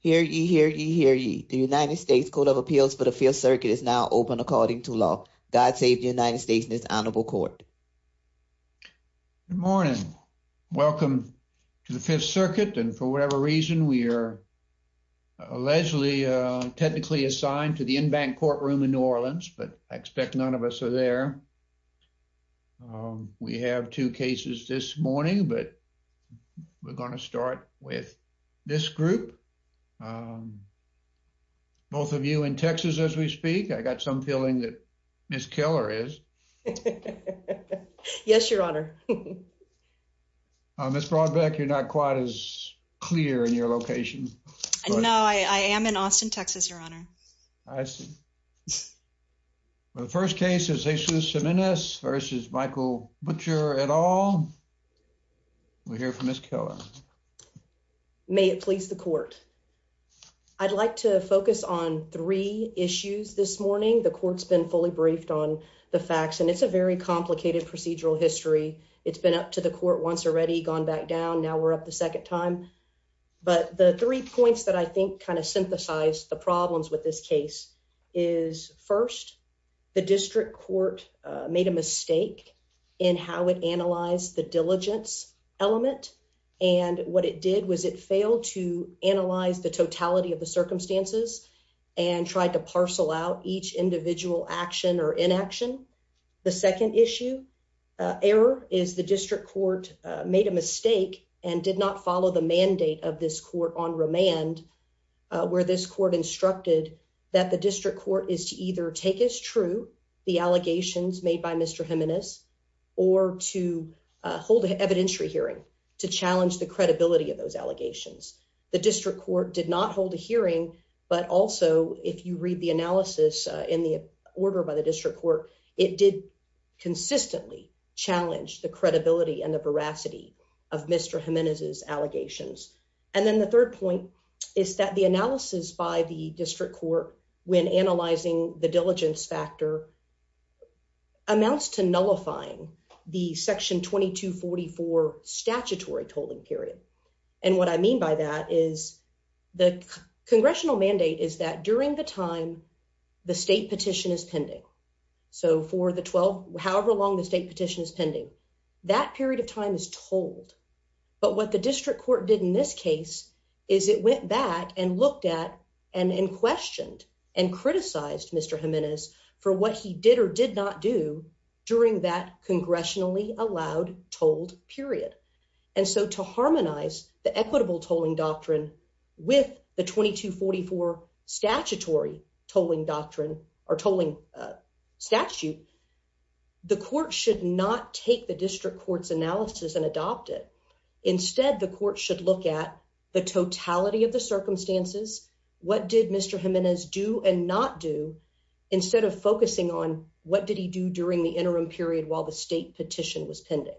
Hear ye, hear ye, hear ye. The United States Court of Appeals for the Fifth Circuit is now open according to law. God save the United States and its honorable court. Good morning. Welcome to the Fifth Circuit. And for whatever reason, we are allegedly technically assigned to the Enbank courtroom in New Orleans, but I expect none of us are there. We have two cases this morning, but we're going to start with this group. Um, both of you in Texas as we speak, I got some feeling that Ms. Keller is. Yes, your honor. Ms. Brodbeck, you're not quite as clear in your location. No, I am in Austin, Texas, your honor. I see. The first case is Jesus Jimenez v. Michael Butcher et al. We'll hear from Ms. Keller. Your honor, may it please the court. I'd like to focus on three issues this morning. The court's been fully briefed on the facts, and it's a very complicated procedural history. It's been up to the court once already gone back down. Now we're up the second time. But the three points that I think kind of synthesize the problems with this case is first, the district court made a mistake in how it analyzed the diligence element. And what it did was it failed to analyze the totality of the circumstances and tried to parcel out each individual action or inaction. The second issue error is the district court made a mistake and did not follow the mandate of this court on remand, where this court instructed that the district court is to either take as true the allegations made by Mr. Jimenez or to hold an evidentiary hearing to challenge the credibility of those allegations. The district court did not hold a hearing, but also if you read the analysis in the order by the district court, it did consistently challenge the credibility and the veracity of Mr. Jimenez's allegations. And then the third point is that the analysis by the district court when analyzing the diligence factor amounts to nullifying the section 2244 statutory tolling period. And what I mean by that is the congressional mandate is that during the time the state petition is pending. So for the 12, however long the state petition is pending, that period of time is tolled. But what the district court did in this case is it went back and looked at and questioned and criticized Mr. Jimenez for what he did or did not do during that congressionally allowed tolled period. And so to harmonize the equitable tolling doctrine with the 2244 statutory tolling doctrine or tolling statute, the court should not take the district court's analysis and adopt it. Instead, the court should look at the totality of the circumstances. What did Mr. Jimenez do and not do instead of focusing on what did he do during the interim period while the state petition was pending?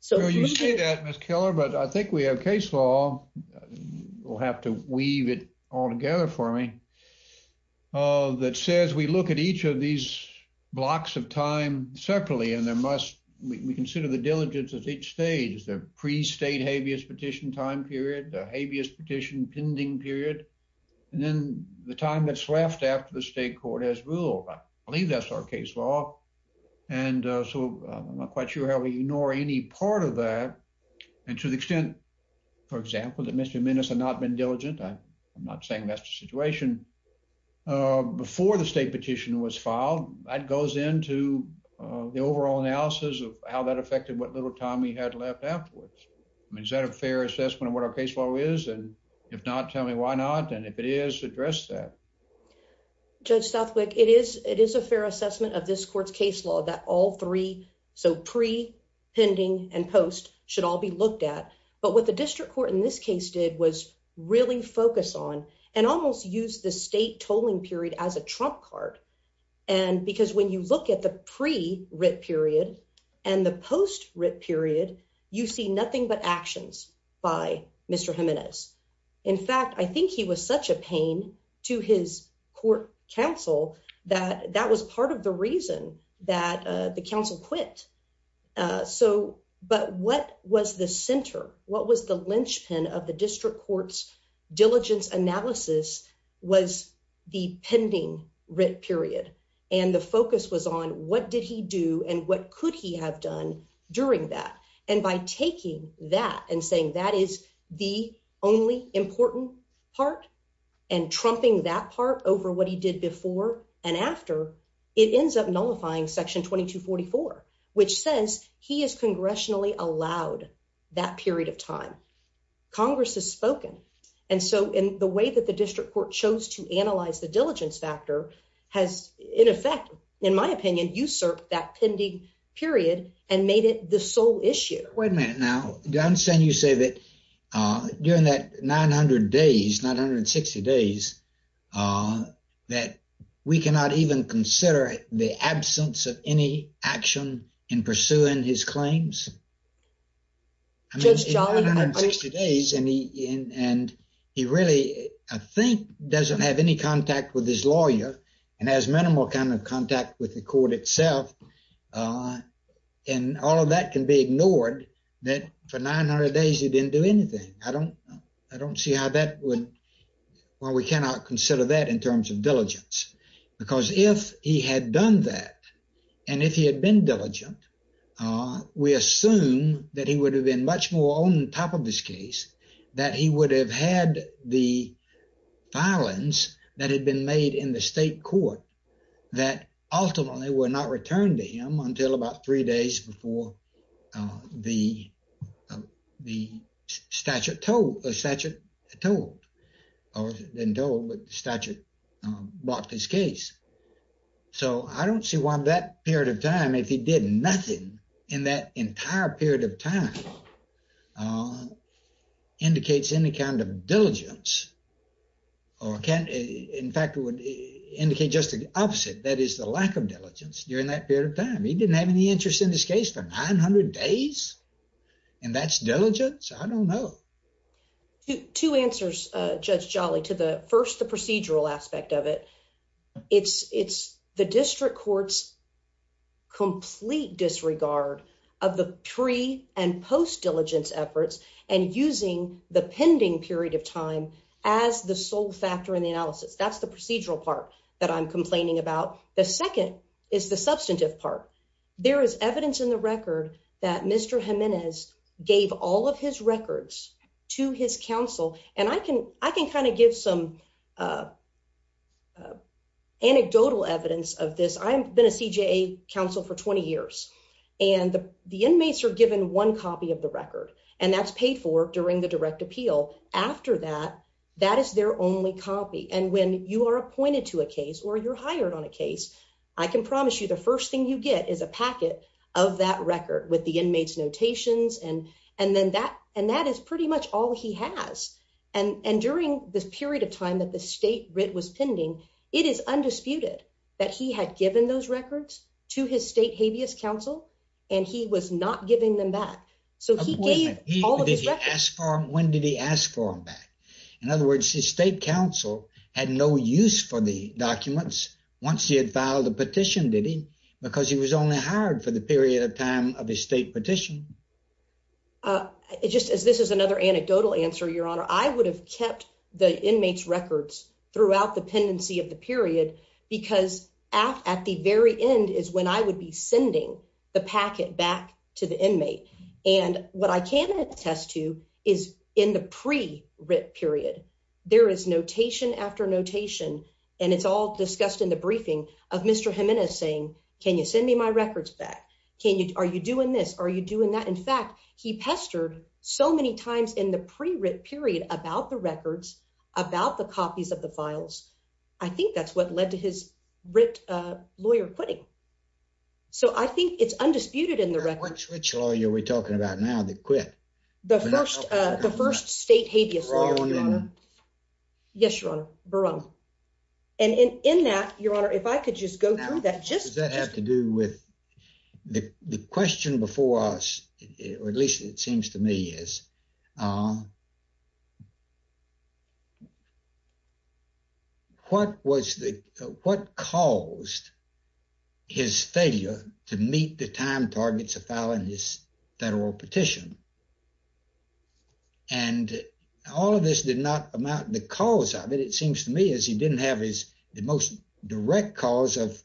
So you say that, Miss Keller, but I think we have case law. We'll have to weave it all together for me. Oh, that says we look at each of these blocks of time separately, and there must we consider the diligence of each stage, the pre-state habeas petition time period, the habeas petition pending period, and then the time that's left after the state court has ruled. I believe that's our case law. And so I'm not quite sure how we ignore any part of that. And to the extent, for example, that Mr. Jimenez had not been diligent, I'm not saying that's the situation, before the state petition was filed, that goes into the overall analysis of how that affected what little time he had left afterwards. I mean, is that a fair assessment of what our case law is? And if not, tell me why not. And if it is, address that. Judge Southwick, it is a fair assessment of this court's case law that all three, so pre, pending, and post, should all be looked at. But what the district court in this case did was really focus on and almost use the state tolling period as a trump card. And because when you look at the pre-writ period and the post-writ period, you see nothing but actions by Mr. Jimenez. In fact, I think he was such a pain to his court counsel that that was part of the reason that the counsel quit. But what was the center? What was the linchpin of the district court's diligence analysis was the pending writ period. And the focus was on what did he do and what could he have done during that. And by taking that and saying that is the only important part, and trumping that part over what he did before and after, it ends up nullifying section 2244, which says he is congressionally allowed that period of time. Congress has spoken. And so in the way that the district court chose to analyze the diligence factor has, in effect, in my opinion, usurped that pending period and made it the sole issue. Wait a minute now. I understand you say that during that 900 days, 960 days, that we cannot even consider the absence of any action in pursuing his claims? I mean, 960 days, and he really, I think, doesn't have any contact with his lawyer and has minimal kind of contact with the court itself. And all of that can be anything. I don't see how that would, well, we cannot consider that in terms of diligence, because if he had done that, and if he had been diligent, we assume that he would have been much more on top of this case, that he would have had the filings that had been made in the state court that ultimately were not returned to him until about three days before the statute told, the statute told, or it wasn't told, but the statute blocked his case. So I don't see why that period of time, if he did nothing in that entire period of time, indicates any kind of diligence or can, in fact, it would indicate just the opposite, that is the lack of diligence during that period of time. He didn't have any interest in this case for 900 days, and that's diligence? I don't know. Two answers, Judge Jolly, to the first, the procedural aspect of it. It's the district court's complete disregard of the pre- and post-diligence efforts and using the pending period of time as the sole factor in the analysis. That's the procedural part that I'm complaining about. The second is the substantive part. There is evidence in the record that Mr. Jimenez gave all of his records to his counsel, and I can kind of give some anecdotal evidence of this. I've been a CJA counsel for 20 years, and the inmates are given one copy of the record, and that's paid for during the direct appeal. After that, that is their only copy, and when you are appointed to a case or you're hired on a case, I can promise you the first thing you get is a packet of that record with the inmates' notations, and that is pretty much all he has. During this period of time that the state writ was pending, it is undisputed that he had given those records to his state habeas counsel, and he was not giving them back. He gave all of his records. When did he ask for them back? In other words, his state counsel had no use for the for the period of time of his state petition. Just as this is another anecdotal answer, Your Honor, I would have kept the inmates' records throughout the pendency of the period because at the very end is when I would be sending the packet back to the inmate, and what I can attest to is in the pre-writ period, there is notation after notation, and it's all discussed in the briefing of Mr. Jimenez saying, can you send me my records back? Are you doing this? Are you doing that? In fact, he pestered so many times in the pre-writ period about the records, about the copies of the files. I think that's what led to his writ lawyer quitting, so I think it's undisputed in the record. Which lawyer are we talking about now that quit? The first state habeas law. Yes, Your Honor. And in that, Your Honor, if I could just go through that. Does that have to do with the question before us, or at least it seems to me is, what caused his failure to meet the time targets of filing this federal petition? And all of this did not amount, the cause of it, it seems to me, is he didn't have his, the most direct cause of,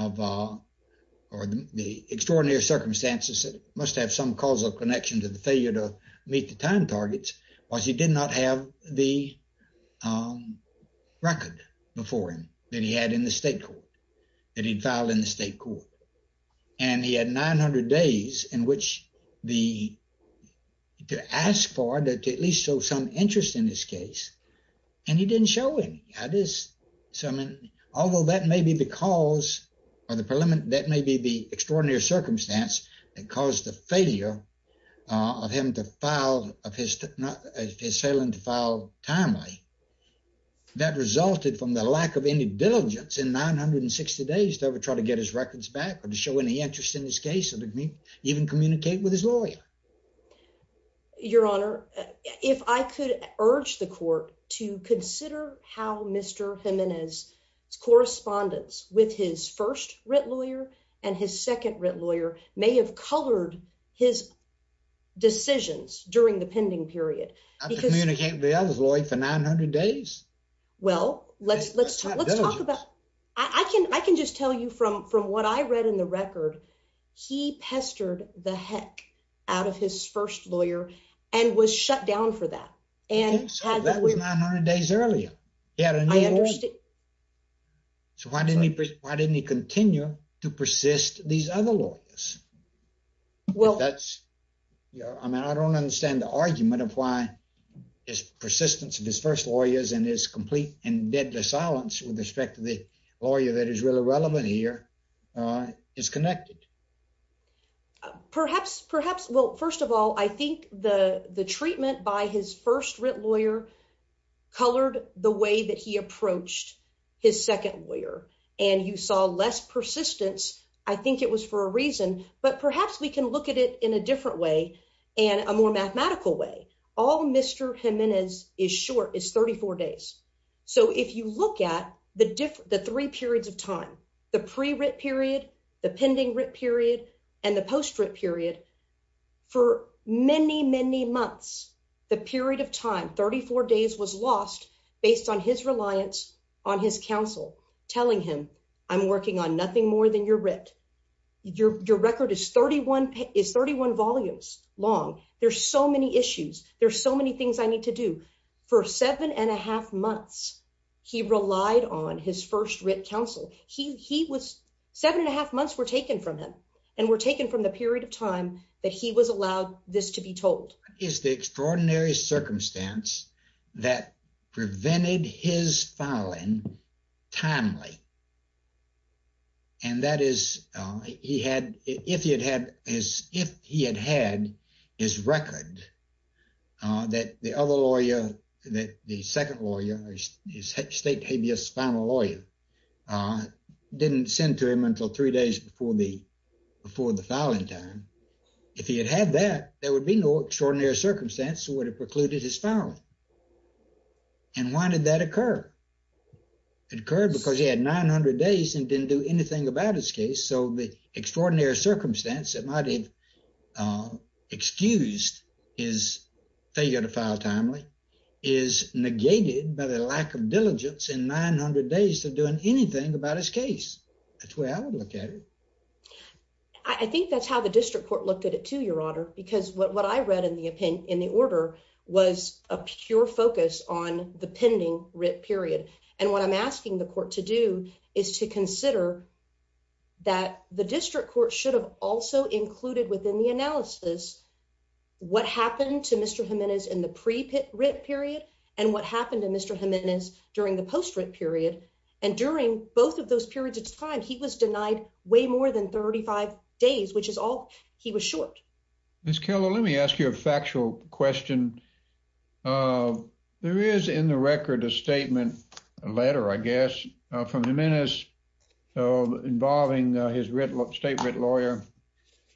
or the extraordinary circumstances that must have some causal connection to the failure to meet the time targets, was he did not have the record before him that he had in the state court, that he'd filed in the state court. And he had 900 days in which the to ask for, to at least show some interest in this case, and he didn't show any. That is, so I mean, although that may be the cause, or the preliminary, that may be the extraordinary circumstance that caused the failure of him to file, of his, of his sailing to file timely, that resulted from the lack of any diligence in 960 days to ever try to get his records back, to show any interest in this case, and to even communicate with his lawyer. Your Honor, if I could urge the court to consider how Mr. Jimenez's correspondence with his first writ lawyer and his second writ lawyer may have colored his decisions during the pending period. Not to communicate with the other's lawyer for 900 days? Well, let's, let's, let's talk about, I can, I can just tell you from, from what I read in the record, he pestered the heck out of his first lawyer and was shut down for that. And so that was 900 days earlier. Yeah. So why didn't he, why didn't he continue to persist these other lawyers? Well, that's, you know, I mean, I don't understand the argument of his persistence of his first lawyers and his complete and deadly silence with respect to the lawyer that is really relevant here is connected. Perhaps, perhaps, well, first of all, I think the, the treatment by his first writ lawyer colored the way that he approached his second lawyer, and you saw less persistence. I think it was for a reason, but perhaps we can look at it in a different way. All Mr. Jimenez is short is 34 days. So if you look at the different, the three periods of time, the pre-writ period, the pending writ period, and the post-writ period, for many, many months, the period of time, 34 days was lost based on his reliance on his counsel, telling him I'm working on nothing more than your writ. Your, your record is 31, is 31 volumes long. There's so many issues. There's so many things I need to do for seven and a half months. He relied on his first writ counsel. He, he was seven and a half months were taken from him and were taken from the period of time that he was allowed this to be told. Is the extraordinary circumstance that prevented his filing timely? And that is, he had, if he had had his, if he had had his record that the other lawyer, that the second lawyer, his state habeas final lawyer, didn't send to him until three days before the, before the filing time. If he had had that, there would be no extraordinary circumstance that would have precluded his filing. And why did that occur? It occurred because he had 900 days and didn't do anything about his case. So the extraordinary circumstance that might have excused his failure to file timely is negated by the lack of diligence in 900 days to doing anything about his case. That's the way I would look at it. I think that's how the district court looked at it too, because what I read in the opinion in the order was a pure focus on the pending writ period. And what I'm asking the court to do is to consider that the district court should have also included within the analysis, what happened to Mr. Jimenez in the pre-writ period and what happened to Mr. Jimenez during the post-writ period. And during both of those periods of time, he was denied way more than 35 days, which is all he was short. Ms. Keller, let me ask you a factual question. There is in the record a statement, a letter, I guess, from Jimenez involving his state writ lawyer.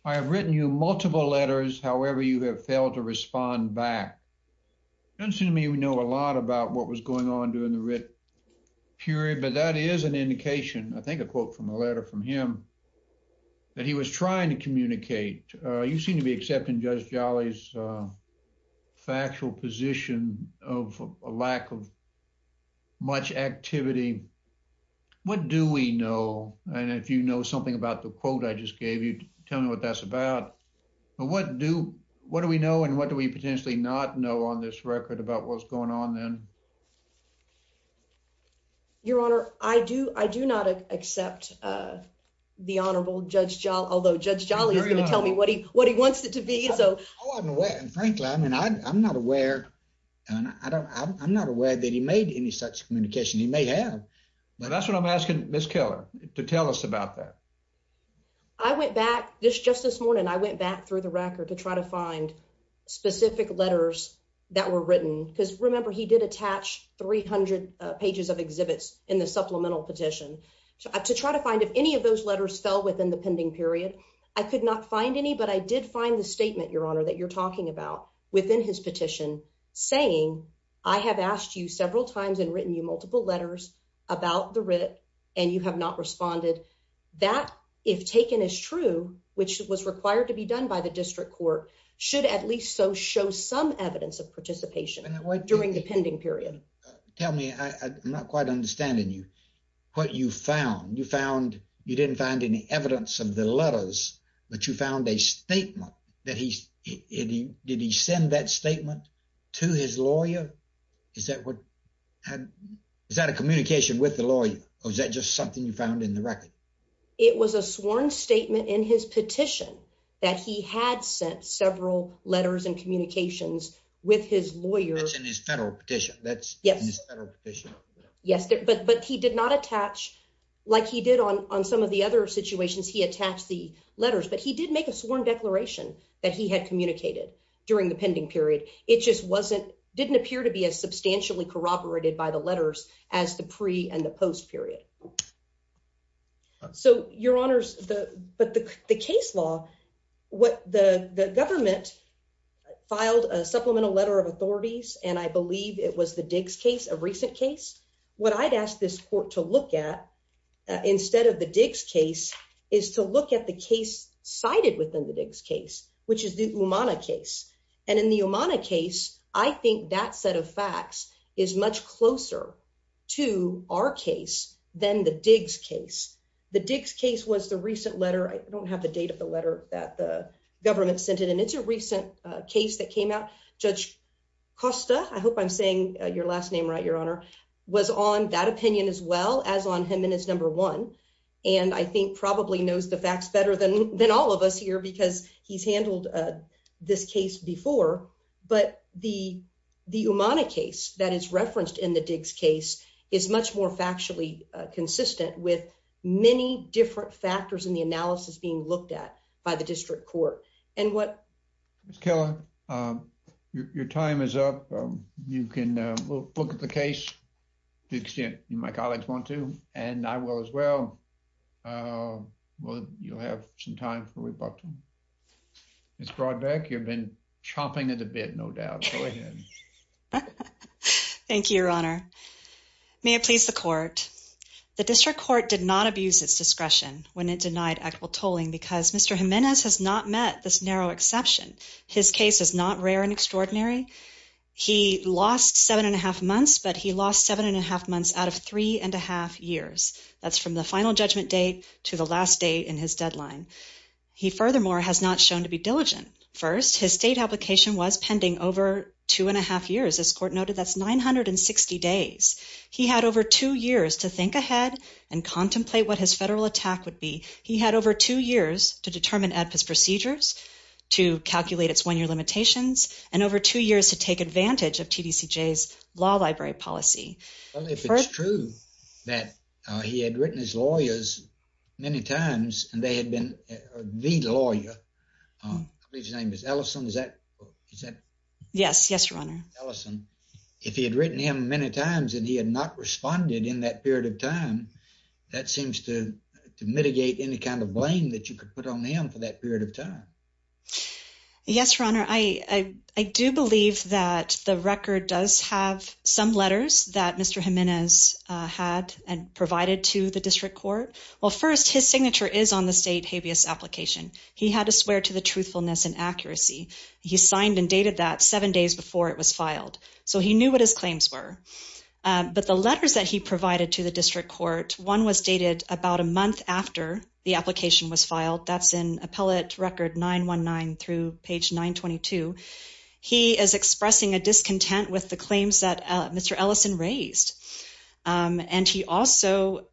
I have written you multiple letters. However, you have failed to respond back. It doesn't seem to me we know a lot about what was going on with him, that he was trying to communicate. You seem to be accepting Judge Jolly's factual position of a lack of much activity. What do we know? And if you know something about the quote I just gave you, tell me what that's about. But what do we know and what do we potentially not know on this record about what's going on then? Your Honor, I do not accept the Honorable Judge Jolly, although Judge Jolly is going to tell me what he wants it to be. I'm not aware that he made any such communication. He may have. Well, that's what I'm asking Ms. Keller to tell us about that. I went back, just this morning, I went back through the record to try to find specific letters that were written, because remember, he did attach 300 pages of exhibits in the supplemental petition, to try to find if any of those letters fell within the pending period. I could not find any, but I did find the statement, Your Honor, that you're talking about within his petition saying, I have asked you several times and written you multiple letters about the writ and you have not responded. That, if taken as true, which was required to be done by the district court, should at least so show some evidence of participation during the pending period. Tell me, I'm not quite understanding you, what you found. You found, you didn't find any evidence of the letters, but you found a statement that he's, did he send that statement to his lawyer? Is that what, is that a communication with the lawyer or is that just something you had sent several letters and communications with his lawyer? That's in his federal petition. Yes, but he did not attach, like he did on some of the other situations, he attached the letters, but he did make a sworn declaration that he had communicated during the pending period. It just wasn't, didn't appear to be as substantially corroborated by the letters as the pre and the government filed a supplemental letter of authorities and I believe it was the Diggs case, a recent case. What I'd asked this court to look at instead of the Diggs case is to look at the case cited within the Diggs case, which is the Umana case. And in the Umana case, I think that set of facts is much closer to our case than the Diggs case. The Diggs case was the recent letter that the government sent it and it's a recent case that came out. Judge Costa, I hope I'm saying your last name right, your honor, was on that opinion as well as on him and his number one and I think probably knows the facts better than all of us here because he's handled this case before, but the Umana case that is referenced in the Diggs case is much more factually consistent with many different factors in the analysis being looked at by the district court and what... Ms. Keller, your time is up. You can look at the case the extent my colleagues want to and I will as well. Well, you'll have some time for rebuttal. Ms. Brodbeck, you've been chomping at the bit, no doubt. Go ahead. Thank you, your honor. May it please the court. The district court did not abuse its discretion when it denied equitable tolling because Mr. Jimenez has not met this narrow exception. His case is not rare and extraordinary. He lost seven and a half months, but he lost seven and a half months out of three and a half years. That's from the final judgment date to the last day in his deadline. He furthermore has not shown to be diligent. First, his state application was pending over two and a half years. This court to think ahead and contemplate what his federal attack would be. He had over two years to determine AEDPA's procedures, to calculate its one-year limitations, and over two years to take advantage of TDCJ's law library policy. Well, if it's true that he had written his lawyers many times and they had been the lawyer, I believe his name is Ellison, is that... Yes, yes, your honor. Ellison. If he had written him many times and he had not responded in that period of time, that seems to mitigate any kind of blame that you could put on him for that period of time. Yes, your honor. I do believe that the record does have some letters that Mr. Jimenez had and provided to the district court. Well, first, his signature is on the state habeas application. He had to swear to the truthfulness and accuracy. He signed and dated that seven days before it was filed, so he knew what his claims were. But the letters that he provided to the district court, one was dated about a month after the application was filed. That's in appellate record 919 through page 922. He is expressing a discontent with the claims that Mr. Ellison raised, and he also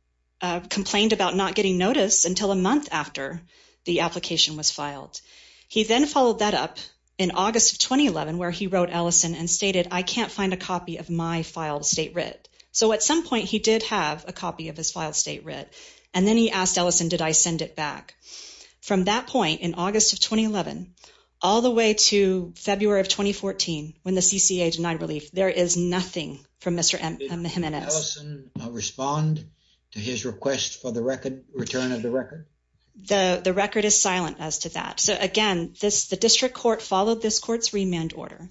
complained about not getting notice until a month after the application was filed. He then followed that up in August of 2011, where he wrote Ellison and stated, I can't find a copy of my filed state writ. So at some point he did have a copy of his filed state writ, and then he asked Ellison, did I send it back? From that point in August of 2011, all the way to February of 2014, when the CCA denied relief, there is nothing from Mr. Jimenez. Did Ellison respond to his request for the record, return of the record? The record is silent as to that. So again, the district court followed this court's remand order.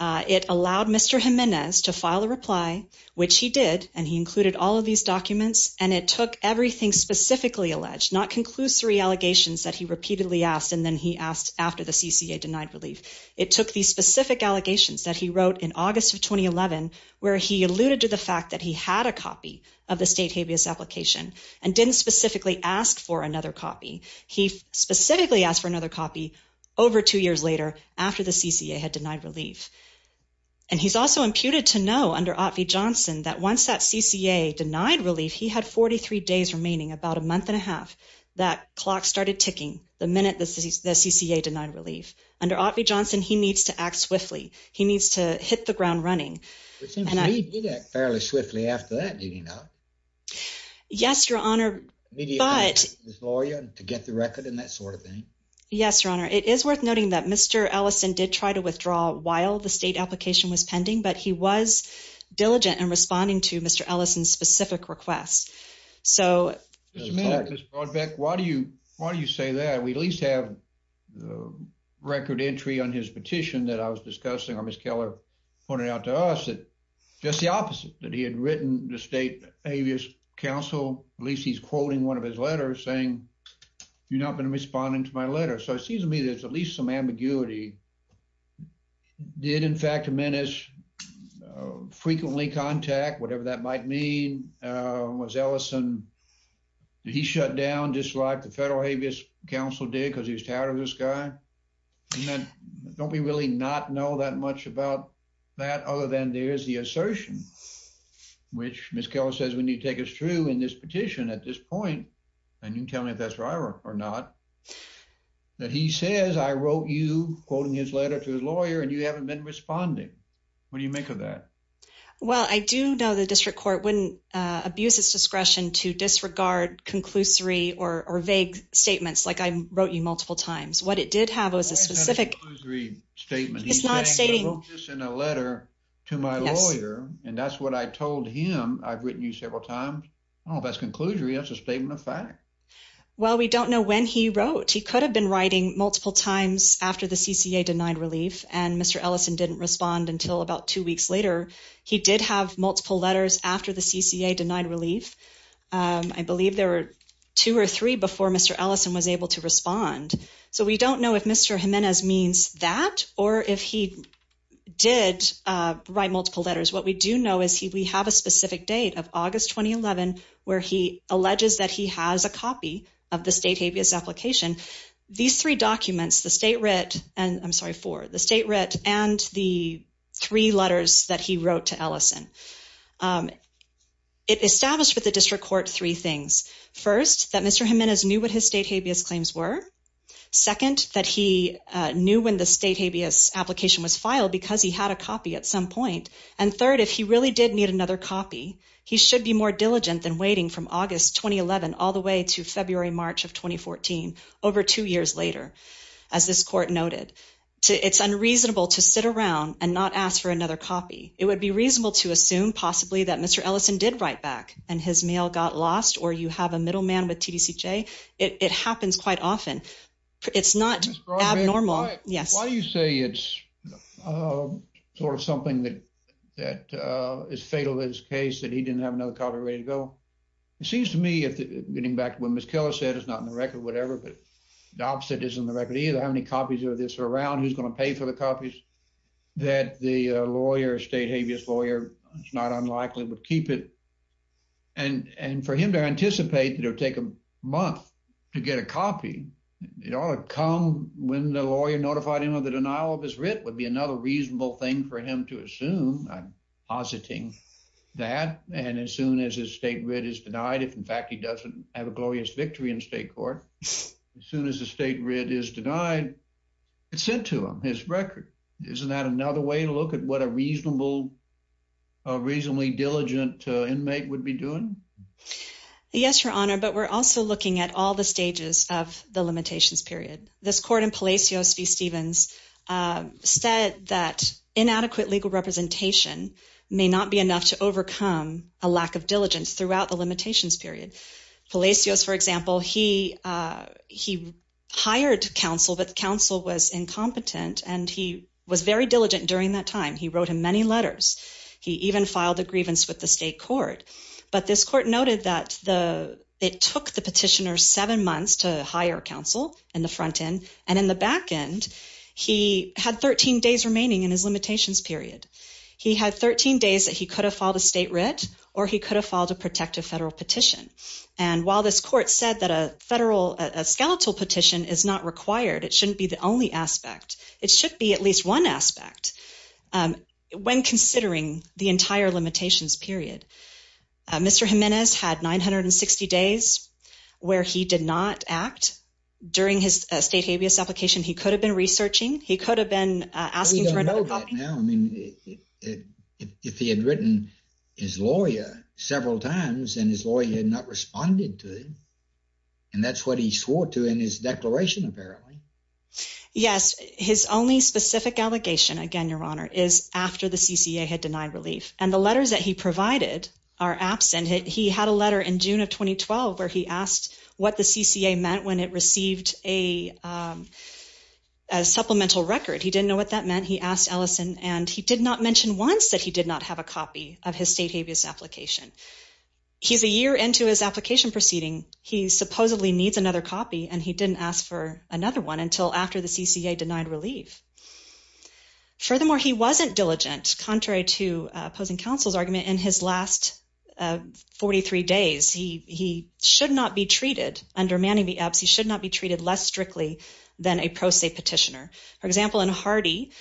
It allowed Mr. Jimenez to file a reply, which he did, and he included all of these documents, and it took everything specifically alleged, not conclusory allegations that he repeatedly asked, and then he asked after the CCA denied relief. It took these specific allegations that he wrote in August of 2011, where he alluded to the fact that he had a copy of the state habeas application and didn't specifically ask for another copy. He specifically asked for another copy over two years later after the CCA had denied relief. And he's also imputed to know under Ott V. Johnson that once that CCA denied relief, he had 43 days remaining, about a month and a half, that clock started ticking the minute the CCA denied relief. Under Ott V. Johnson, he needs to act swiftly. He needs to hit the ground running. It seems he did act fairly swiftly after that, did he not? Yes, Your Honor, but... Immediately asked his lawyer to get the record and that sort of thing? Yes, Your Honor. It is worth noting that Mr. Ellison did try to withdraw while the state application was pending, but he was diligent in responding to Mr. Ellison's specific request. So... Just a minute, Ms. Brodbeck, why do you say that? We at least have record entry on his petition that I was discussing, or Ms. Keller pointed out to us, just the opposite, that he had written the state habeas council, at least he's quoting one of his letters saying, you're not going to respond to my letter. So it seems to me there's at least some ambiguity. Did in fact a menace frequently contact, whatever that might mean, was Ellison, did he shut down just like the federal habeas council did because he was tired of this guy? Don't we really not know that much about that other than there's the assertion, which Ms. Keller says we need to take us through in this petition at this point, and you can tell me if that's right or not, that he says I wrote you quoting his letter to his lawyer and you haven't been responding. What do you make of that? Well, I do know the district court wouldn't abuse its discretion to disregard conclusory or vague statements like I wrote you multiple times. What it did have was a specific statement. He's not stating this in a letter to my lawyer, and that's what I told him. I've written you several times. I don't know if that's conclusory. That's a statement of fact. Well, we don't know when he wrote. He could have been writing multiple times after the CCA denied relief, and Mr. Ellison didn't respond until about two weeks later. He did have multiple letters after the CCA denied relief. I believe there were two or three before Mr. Ellison was able to respond, so we don't know if Mr. Jimenez means that or if he did write multiple letters. What we do know is we have a specific date of August 2011 where he alleges that he has a copy of the state habeas application. These three documents, the state and the three letters that he wrote to Ellison, it established with the district court three things. First, that Mr. Jimenez knew what his state habeas claims were. Second, that he knew when the state habeas application was filed because he had a copy at some point, and third, if he really did need another copy, he should be more diligent than waiting from August 2011 all the way to and not ask for another copy. It would be reasonable to assume possibly that Mr. Ellison did write back and his mail got lost or you have a middleman with TDCJ. It happens quite often. It's not abnormal. Yes. Why do you say it's sort of something that is fatal in this case that he didn't have another copy ready to go? It seems to me, getting back to what Ms. Keller said, it's not in the record, whatever, but the opposite isn't in the record either. How many copies of this are around? Who's going to pay for the copies? That the lawyer, state habeas lawyer, it's not unlikely would keep it. And for him to anticipate that it would take a month to get a copy, it ought to come when the lawyer notified him of the denial of his writ would be another reasonable thing for him to assume. I'm positing that. And as soon as his state writ is denied, if in fact he doesn't have a glorious victory in state court, as soon as the state writ is denied, it's sent to him, his record. Isn't that another way to look at what a reasonable, reasonably diligent inmate would be doing? Yes, Your Honor. But we're also looking at all the stages of the limitations period. This court in Palacios v. Stevens said that inadequate legal representation may not be enough to overcome a lack of diligence throughout the limitations period. Palacios, for example, he hired counsel, but counsel was incompetent and he was very diligent during that time. He wrote him many letters. He even filed a grievance with the state court. But this court noted that it took the petitioner seven months to hire counsel in the front end. And in the back end, he had 13 days remaining in his limitations period. He had 13 days that he could have filed a state writ or he could have filed a protective federal petition. And while this court said that a federal, a skeletal petition is not required, it shouldn't be the only aspect. It should be at least one aspect when considering the entire limitations period. Mr. Jimenez had 960 days where he did not act. During his state habeas application, he could have been researching. He could have been asking for another copy. I mean, if he had written his lawyer several times and his lawyer had not responded to him, and that's what he swore to in his declaration, apparently. Yes. His only specific allegation, again, Your Honor, is after the CCA had denied relief. And the letters that he provided are absent. He had a letter in June of 2012 where he asked what the CCA meant when it received a supplemental record. He didn't know what that meant. He asked and he did not mention once that he did not have a copy of his state habeas application. He's a year into his application proceeding. He supposedly needs another copy and he didn't ask for another one until after the CCA denied relief. Furthermore, he wasn't diligent, contrary to opposing counsel's argument, in his last 43 days. He should not be treated, under Manning v. Epps, he should not be treated less strictly than a pro se petitioner. For example, in Hardy,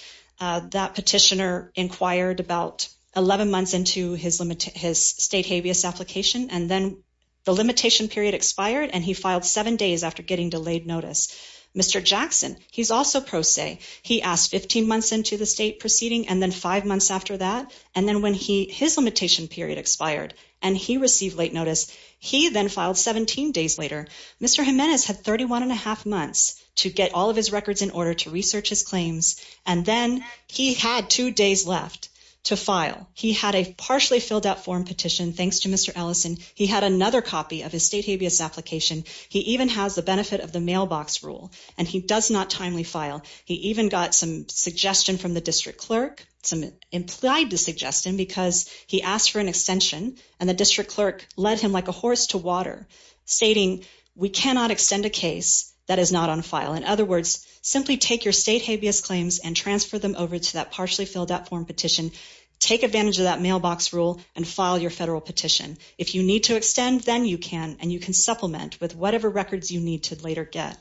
that petitioner inquired about 11 months into his state habeas application and then the limitation period expired and he filed seven days after getting delayed notice. Mr. Jackson, he's also pro se. He asked 15 months into the state proceeding and then five months after that. And then when his limitation period expired and he received late notice, he then filed 17 days later. Mr. Jimenez had 31 and a half months to get all of his records in order to research his claims and then he had two days left to file. He had a partially filled out form petition, thanks to Mr. Ellison. He had another copy of his state habeas application. He even has the benefit of the mailbox rule and he does not timely file. He even got some suggestion from the district clerk, some implied suggestion, because he asked for an extension and the district clerk led him like a horse to water, stating we cannot extend a case that is on file. In other words, simply take your state habeas claims and transfer them over to that partially filled out form petition. Take advantage of that mailbox rule and file your federal petition. If you need to extend, then you can and you can supplement with whatever records you need to later get.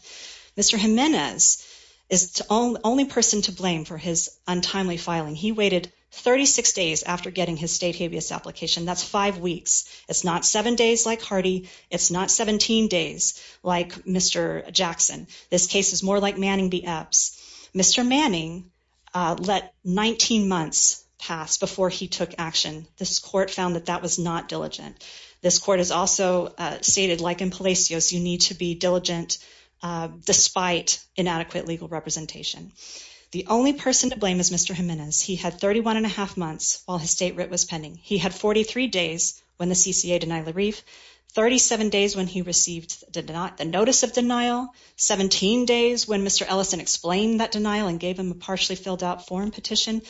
Mr. Jimenez is the only person to blame for his untimely filing. He waited 36 days after getting his state habeas application. That's five weeks. It's not seven days like Hardy. It's not 17 days like Mr. Jackson. This case is more like Manning v. Epps. Mr. Manning let 19 months pass before he took action. This court found that that was not diligent. This court has also stated like in Palacios, you need to be diligent despite inadequate legal representation. The only person to blame is Mr. Jimenez. He had 31 and a half months while his state writ was pending. He had 43 days when the CCA denied LaReef, 37 days when he received the notice of denial, 17 days when Mr. Ellison explained that denial and gave him a partially filled out form petition,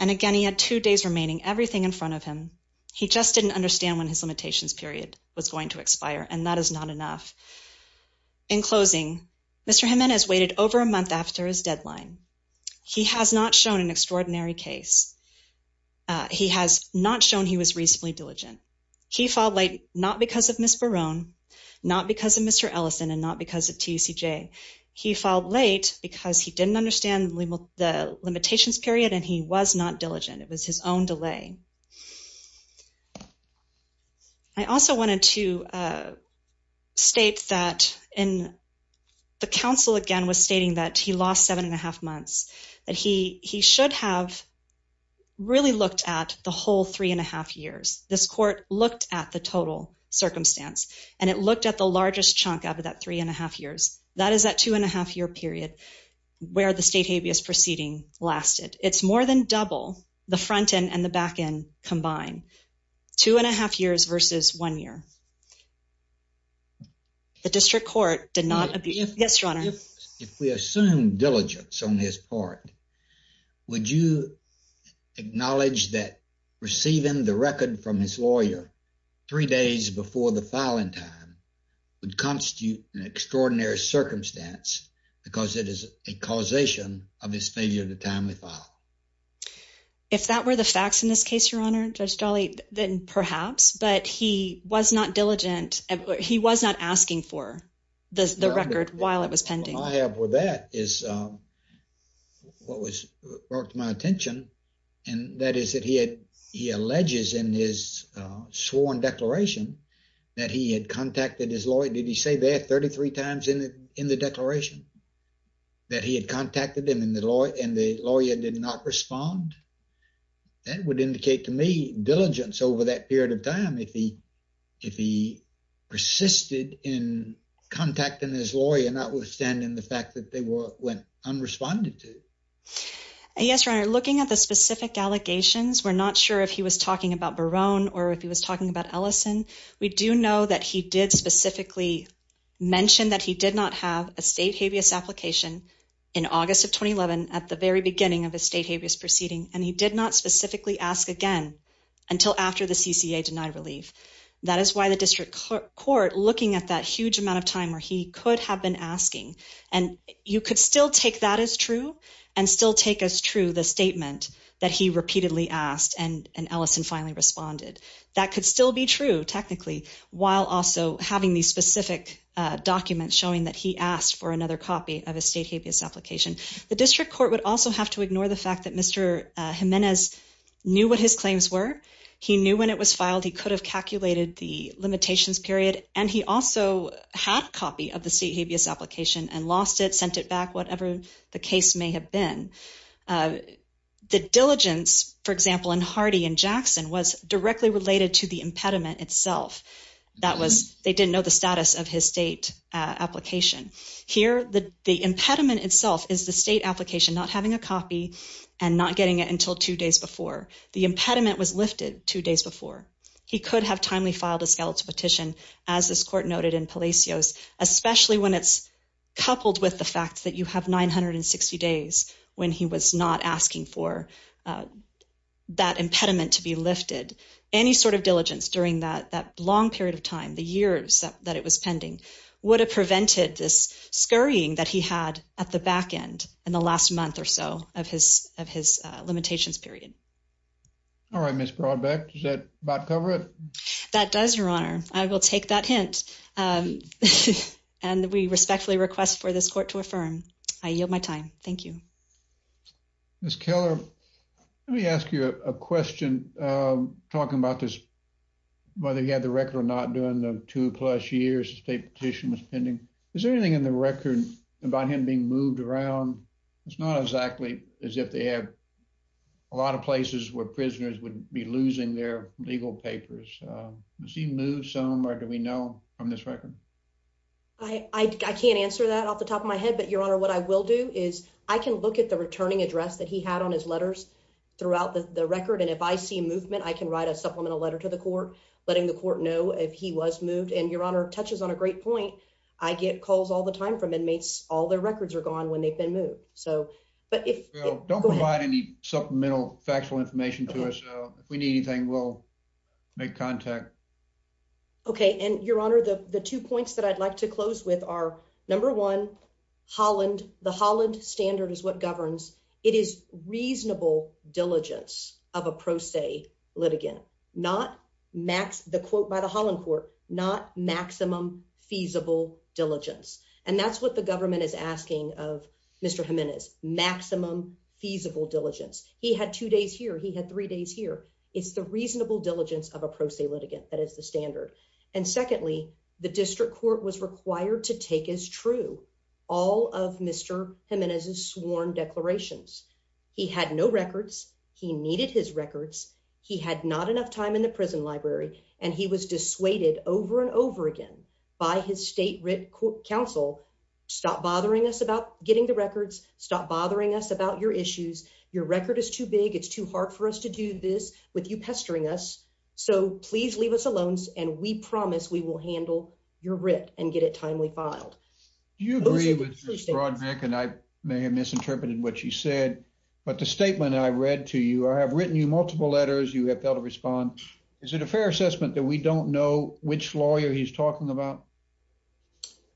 and again, he had two days remaining, everything in front of him. He just didn't understand when his limitations period was going to expire and that is not enough. In closing, Mr. Jimenez waited over a month after his deadline. He has not shown an extraordinary case. He has not shown he was reasonably diligent. He filed late not because of Ms. Barone, not because of Mr. Ellison, and not because of TUCJ. He filed late because he didn't understand the limitations period and he was not diligent. It was his own delay. I also wanted to state that in the counsel again was stating that he lost seven and a half months, that he should have really looked at the whole three and a half years. This court looked at the total circumstance and it looked at the largest chunk of that three and a half years. That is that two and a half year period where the state habeas proceeding lasted. It's more than the front end and the back end combined. Two and a half years versus one year. The district court did not. Yes, your honor. If we assume diligence on his part, would you acknowledge that receiving the record from his lawyer three days before the filing time would constitute an extraordinary circumstance because it is a causation of his failure to timely file? If that were the facts in this case, your honor, Judge Dolley, then perhaps, but he was not diligent. He was not asking for the record while it was pending. All I have with that is what was brought to my attention and that is that he had, he alleges in his sworn declaration that he had contacted his lawyer. Did he say that 33 times in the declaration that he had did not respond? That would indicate to me diligence over that period of time. If he, if he persisted in contacting his lawyer, notwithstanding the fact that they went unresponded to. Yes, your honor. Looking at the specific allegations, we're not sure if he was talking about Barone or if he was talking about Ellison. We do know that he did specifically mention that he did not have a state habeas application in August of 2011 at the very beginning of a state habeas proceeding and he did not specifically ask again until after the CCA denied relief. That is why the district court looking at that huge amount of time where he could have been asking and you could still take that as true and still take as true the statement that he repeatedly asked and Ellison finally responded. That could still be true technically while also having these documents showing that he asked for another copy of a state habeas application. The district court would also have to ignore the fact that Mr. Jimenez knew what his claims were. He knew when it was filed. He could have calculated the limitations period and he also had a copy of the state habeas application and lost it, sent it back, whatever the case may have been. The diligence, for example, in Hardy and Jackson was directly related to the impediment itself. They didn't know the status of his state application. Here the impediment itself is the state application not having a copy and not getting it until two days before. The impediment was lifted two days before. He could have timely filed a skeletal petition as this court noted in Palacios, especially when it's coupled with the fact that you have 960 days when he was not asking for that impediment to be lifted. Any sort of diligence during that long period of time, the years that it was pending, would have prevented this scurrying that he had at the back end in the last month or so of his limitations period. All right, Ms. Brodbeck, does that about cover it? That does, Your Honor. I will take that hint and we respectfully request for this court to affirm. I yield my time. Thank you. Ms. Keller, let me ask you a question talking about this, whether he had the record or not during the two plus years the state petition was pending. Is there anything in the record about him being moved around? It's not exactly as if they had a lot of places where prisoners would be losing their legal papers. Does he move some or do we know from this record? I can't answer that off the top of my head, but Your Honor, what I will do is I can look at the returning address that he had on his letters throughout the record, and if I see movement, I can write a supplemental letter to the court letting the court know if he was moved. And Your Honor touches on a great point. I get calls all the time from inmates. All their records are gone when they've been moved. Don't provide any supplemental factual information to us. If we need anything, we'll make contact. Okay. And Your Honor, the two points that I'd like to close with are number one, Holland. The Holland standard is what governs. It is reasonable diligence of a pro se litigant, not max the quote by the Holland court, not maximum feasible diligence. And that's what the government is asking of Mr Jimenez maximum feasible diligence. He had two days here. He had three days here. It's the reasonable diligence of a pro se litigant. That is the standard. And secondly, the district court was required to take as true all of Mr Jimenez's sworn declarations. He had no records. He needed his records. He had not enough time in the prison library, and he was dissuaded over and over again by his state writ counsel. Stop bothering us about getting the records. Stop bothering us about your issues. Your record is too big. It's too hard for us to do this with you pestering us. So please leave us alone, and we promise we will handle your writ and get it timely filed. Do you agree with this, Roderick? And I may have misinterpreted what you said, but the statement I read to you, I have written you multiple letters. You have failed to respond. Is it a fair assessment that we don't know which lawyer he's talking about?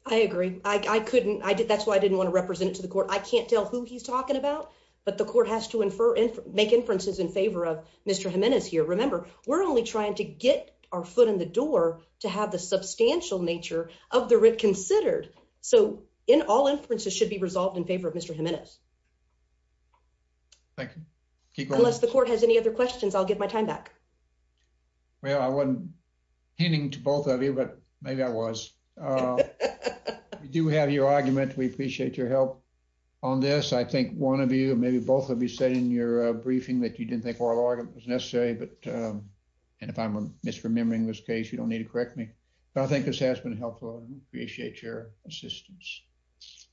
I agree. I couldn't. That's why I didn't want to represent it to the court. I can't tell who he's talking about, but the court has to make inferences in favor of Mr Jimenez here. Remember, we're only trying to get our foot in the door to have the substantial nature of the writ considered. So in all inferences should be resolved in favor of Mr Jimenez. Thank you. Unless the court has any other questions, I'll give my time back. Well, I wasn't hinting to both of you, but maybe I was. We do have your argument. We appreciate your help on this. I think one of you, maybe both of you, said in your briefing that you didn't think oral argument was necessary, but and if I'm misremembering this case, you don't need to correct me. But I think this has been helpful. I appreciate your assistance.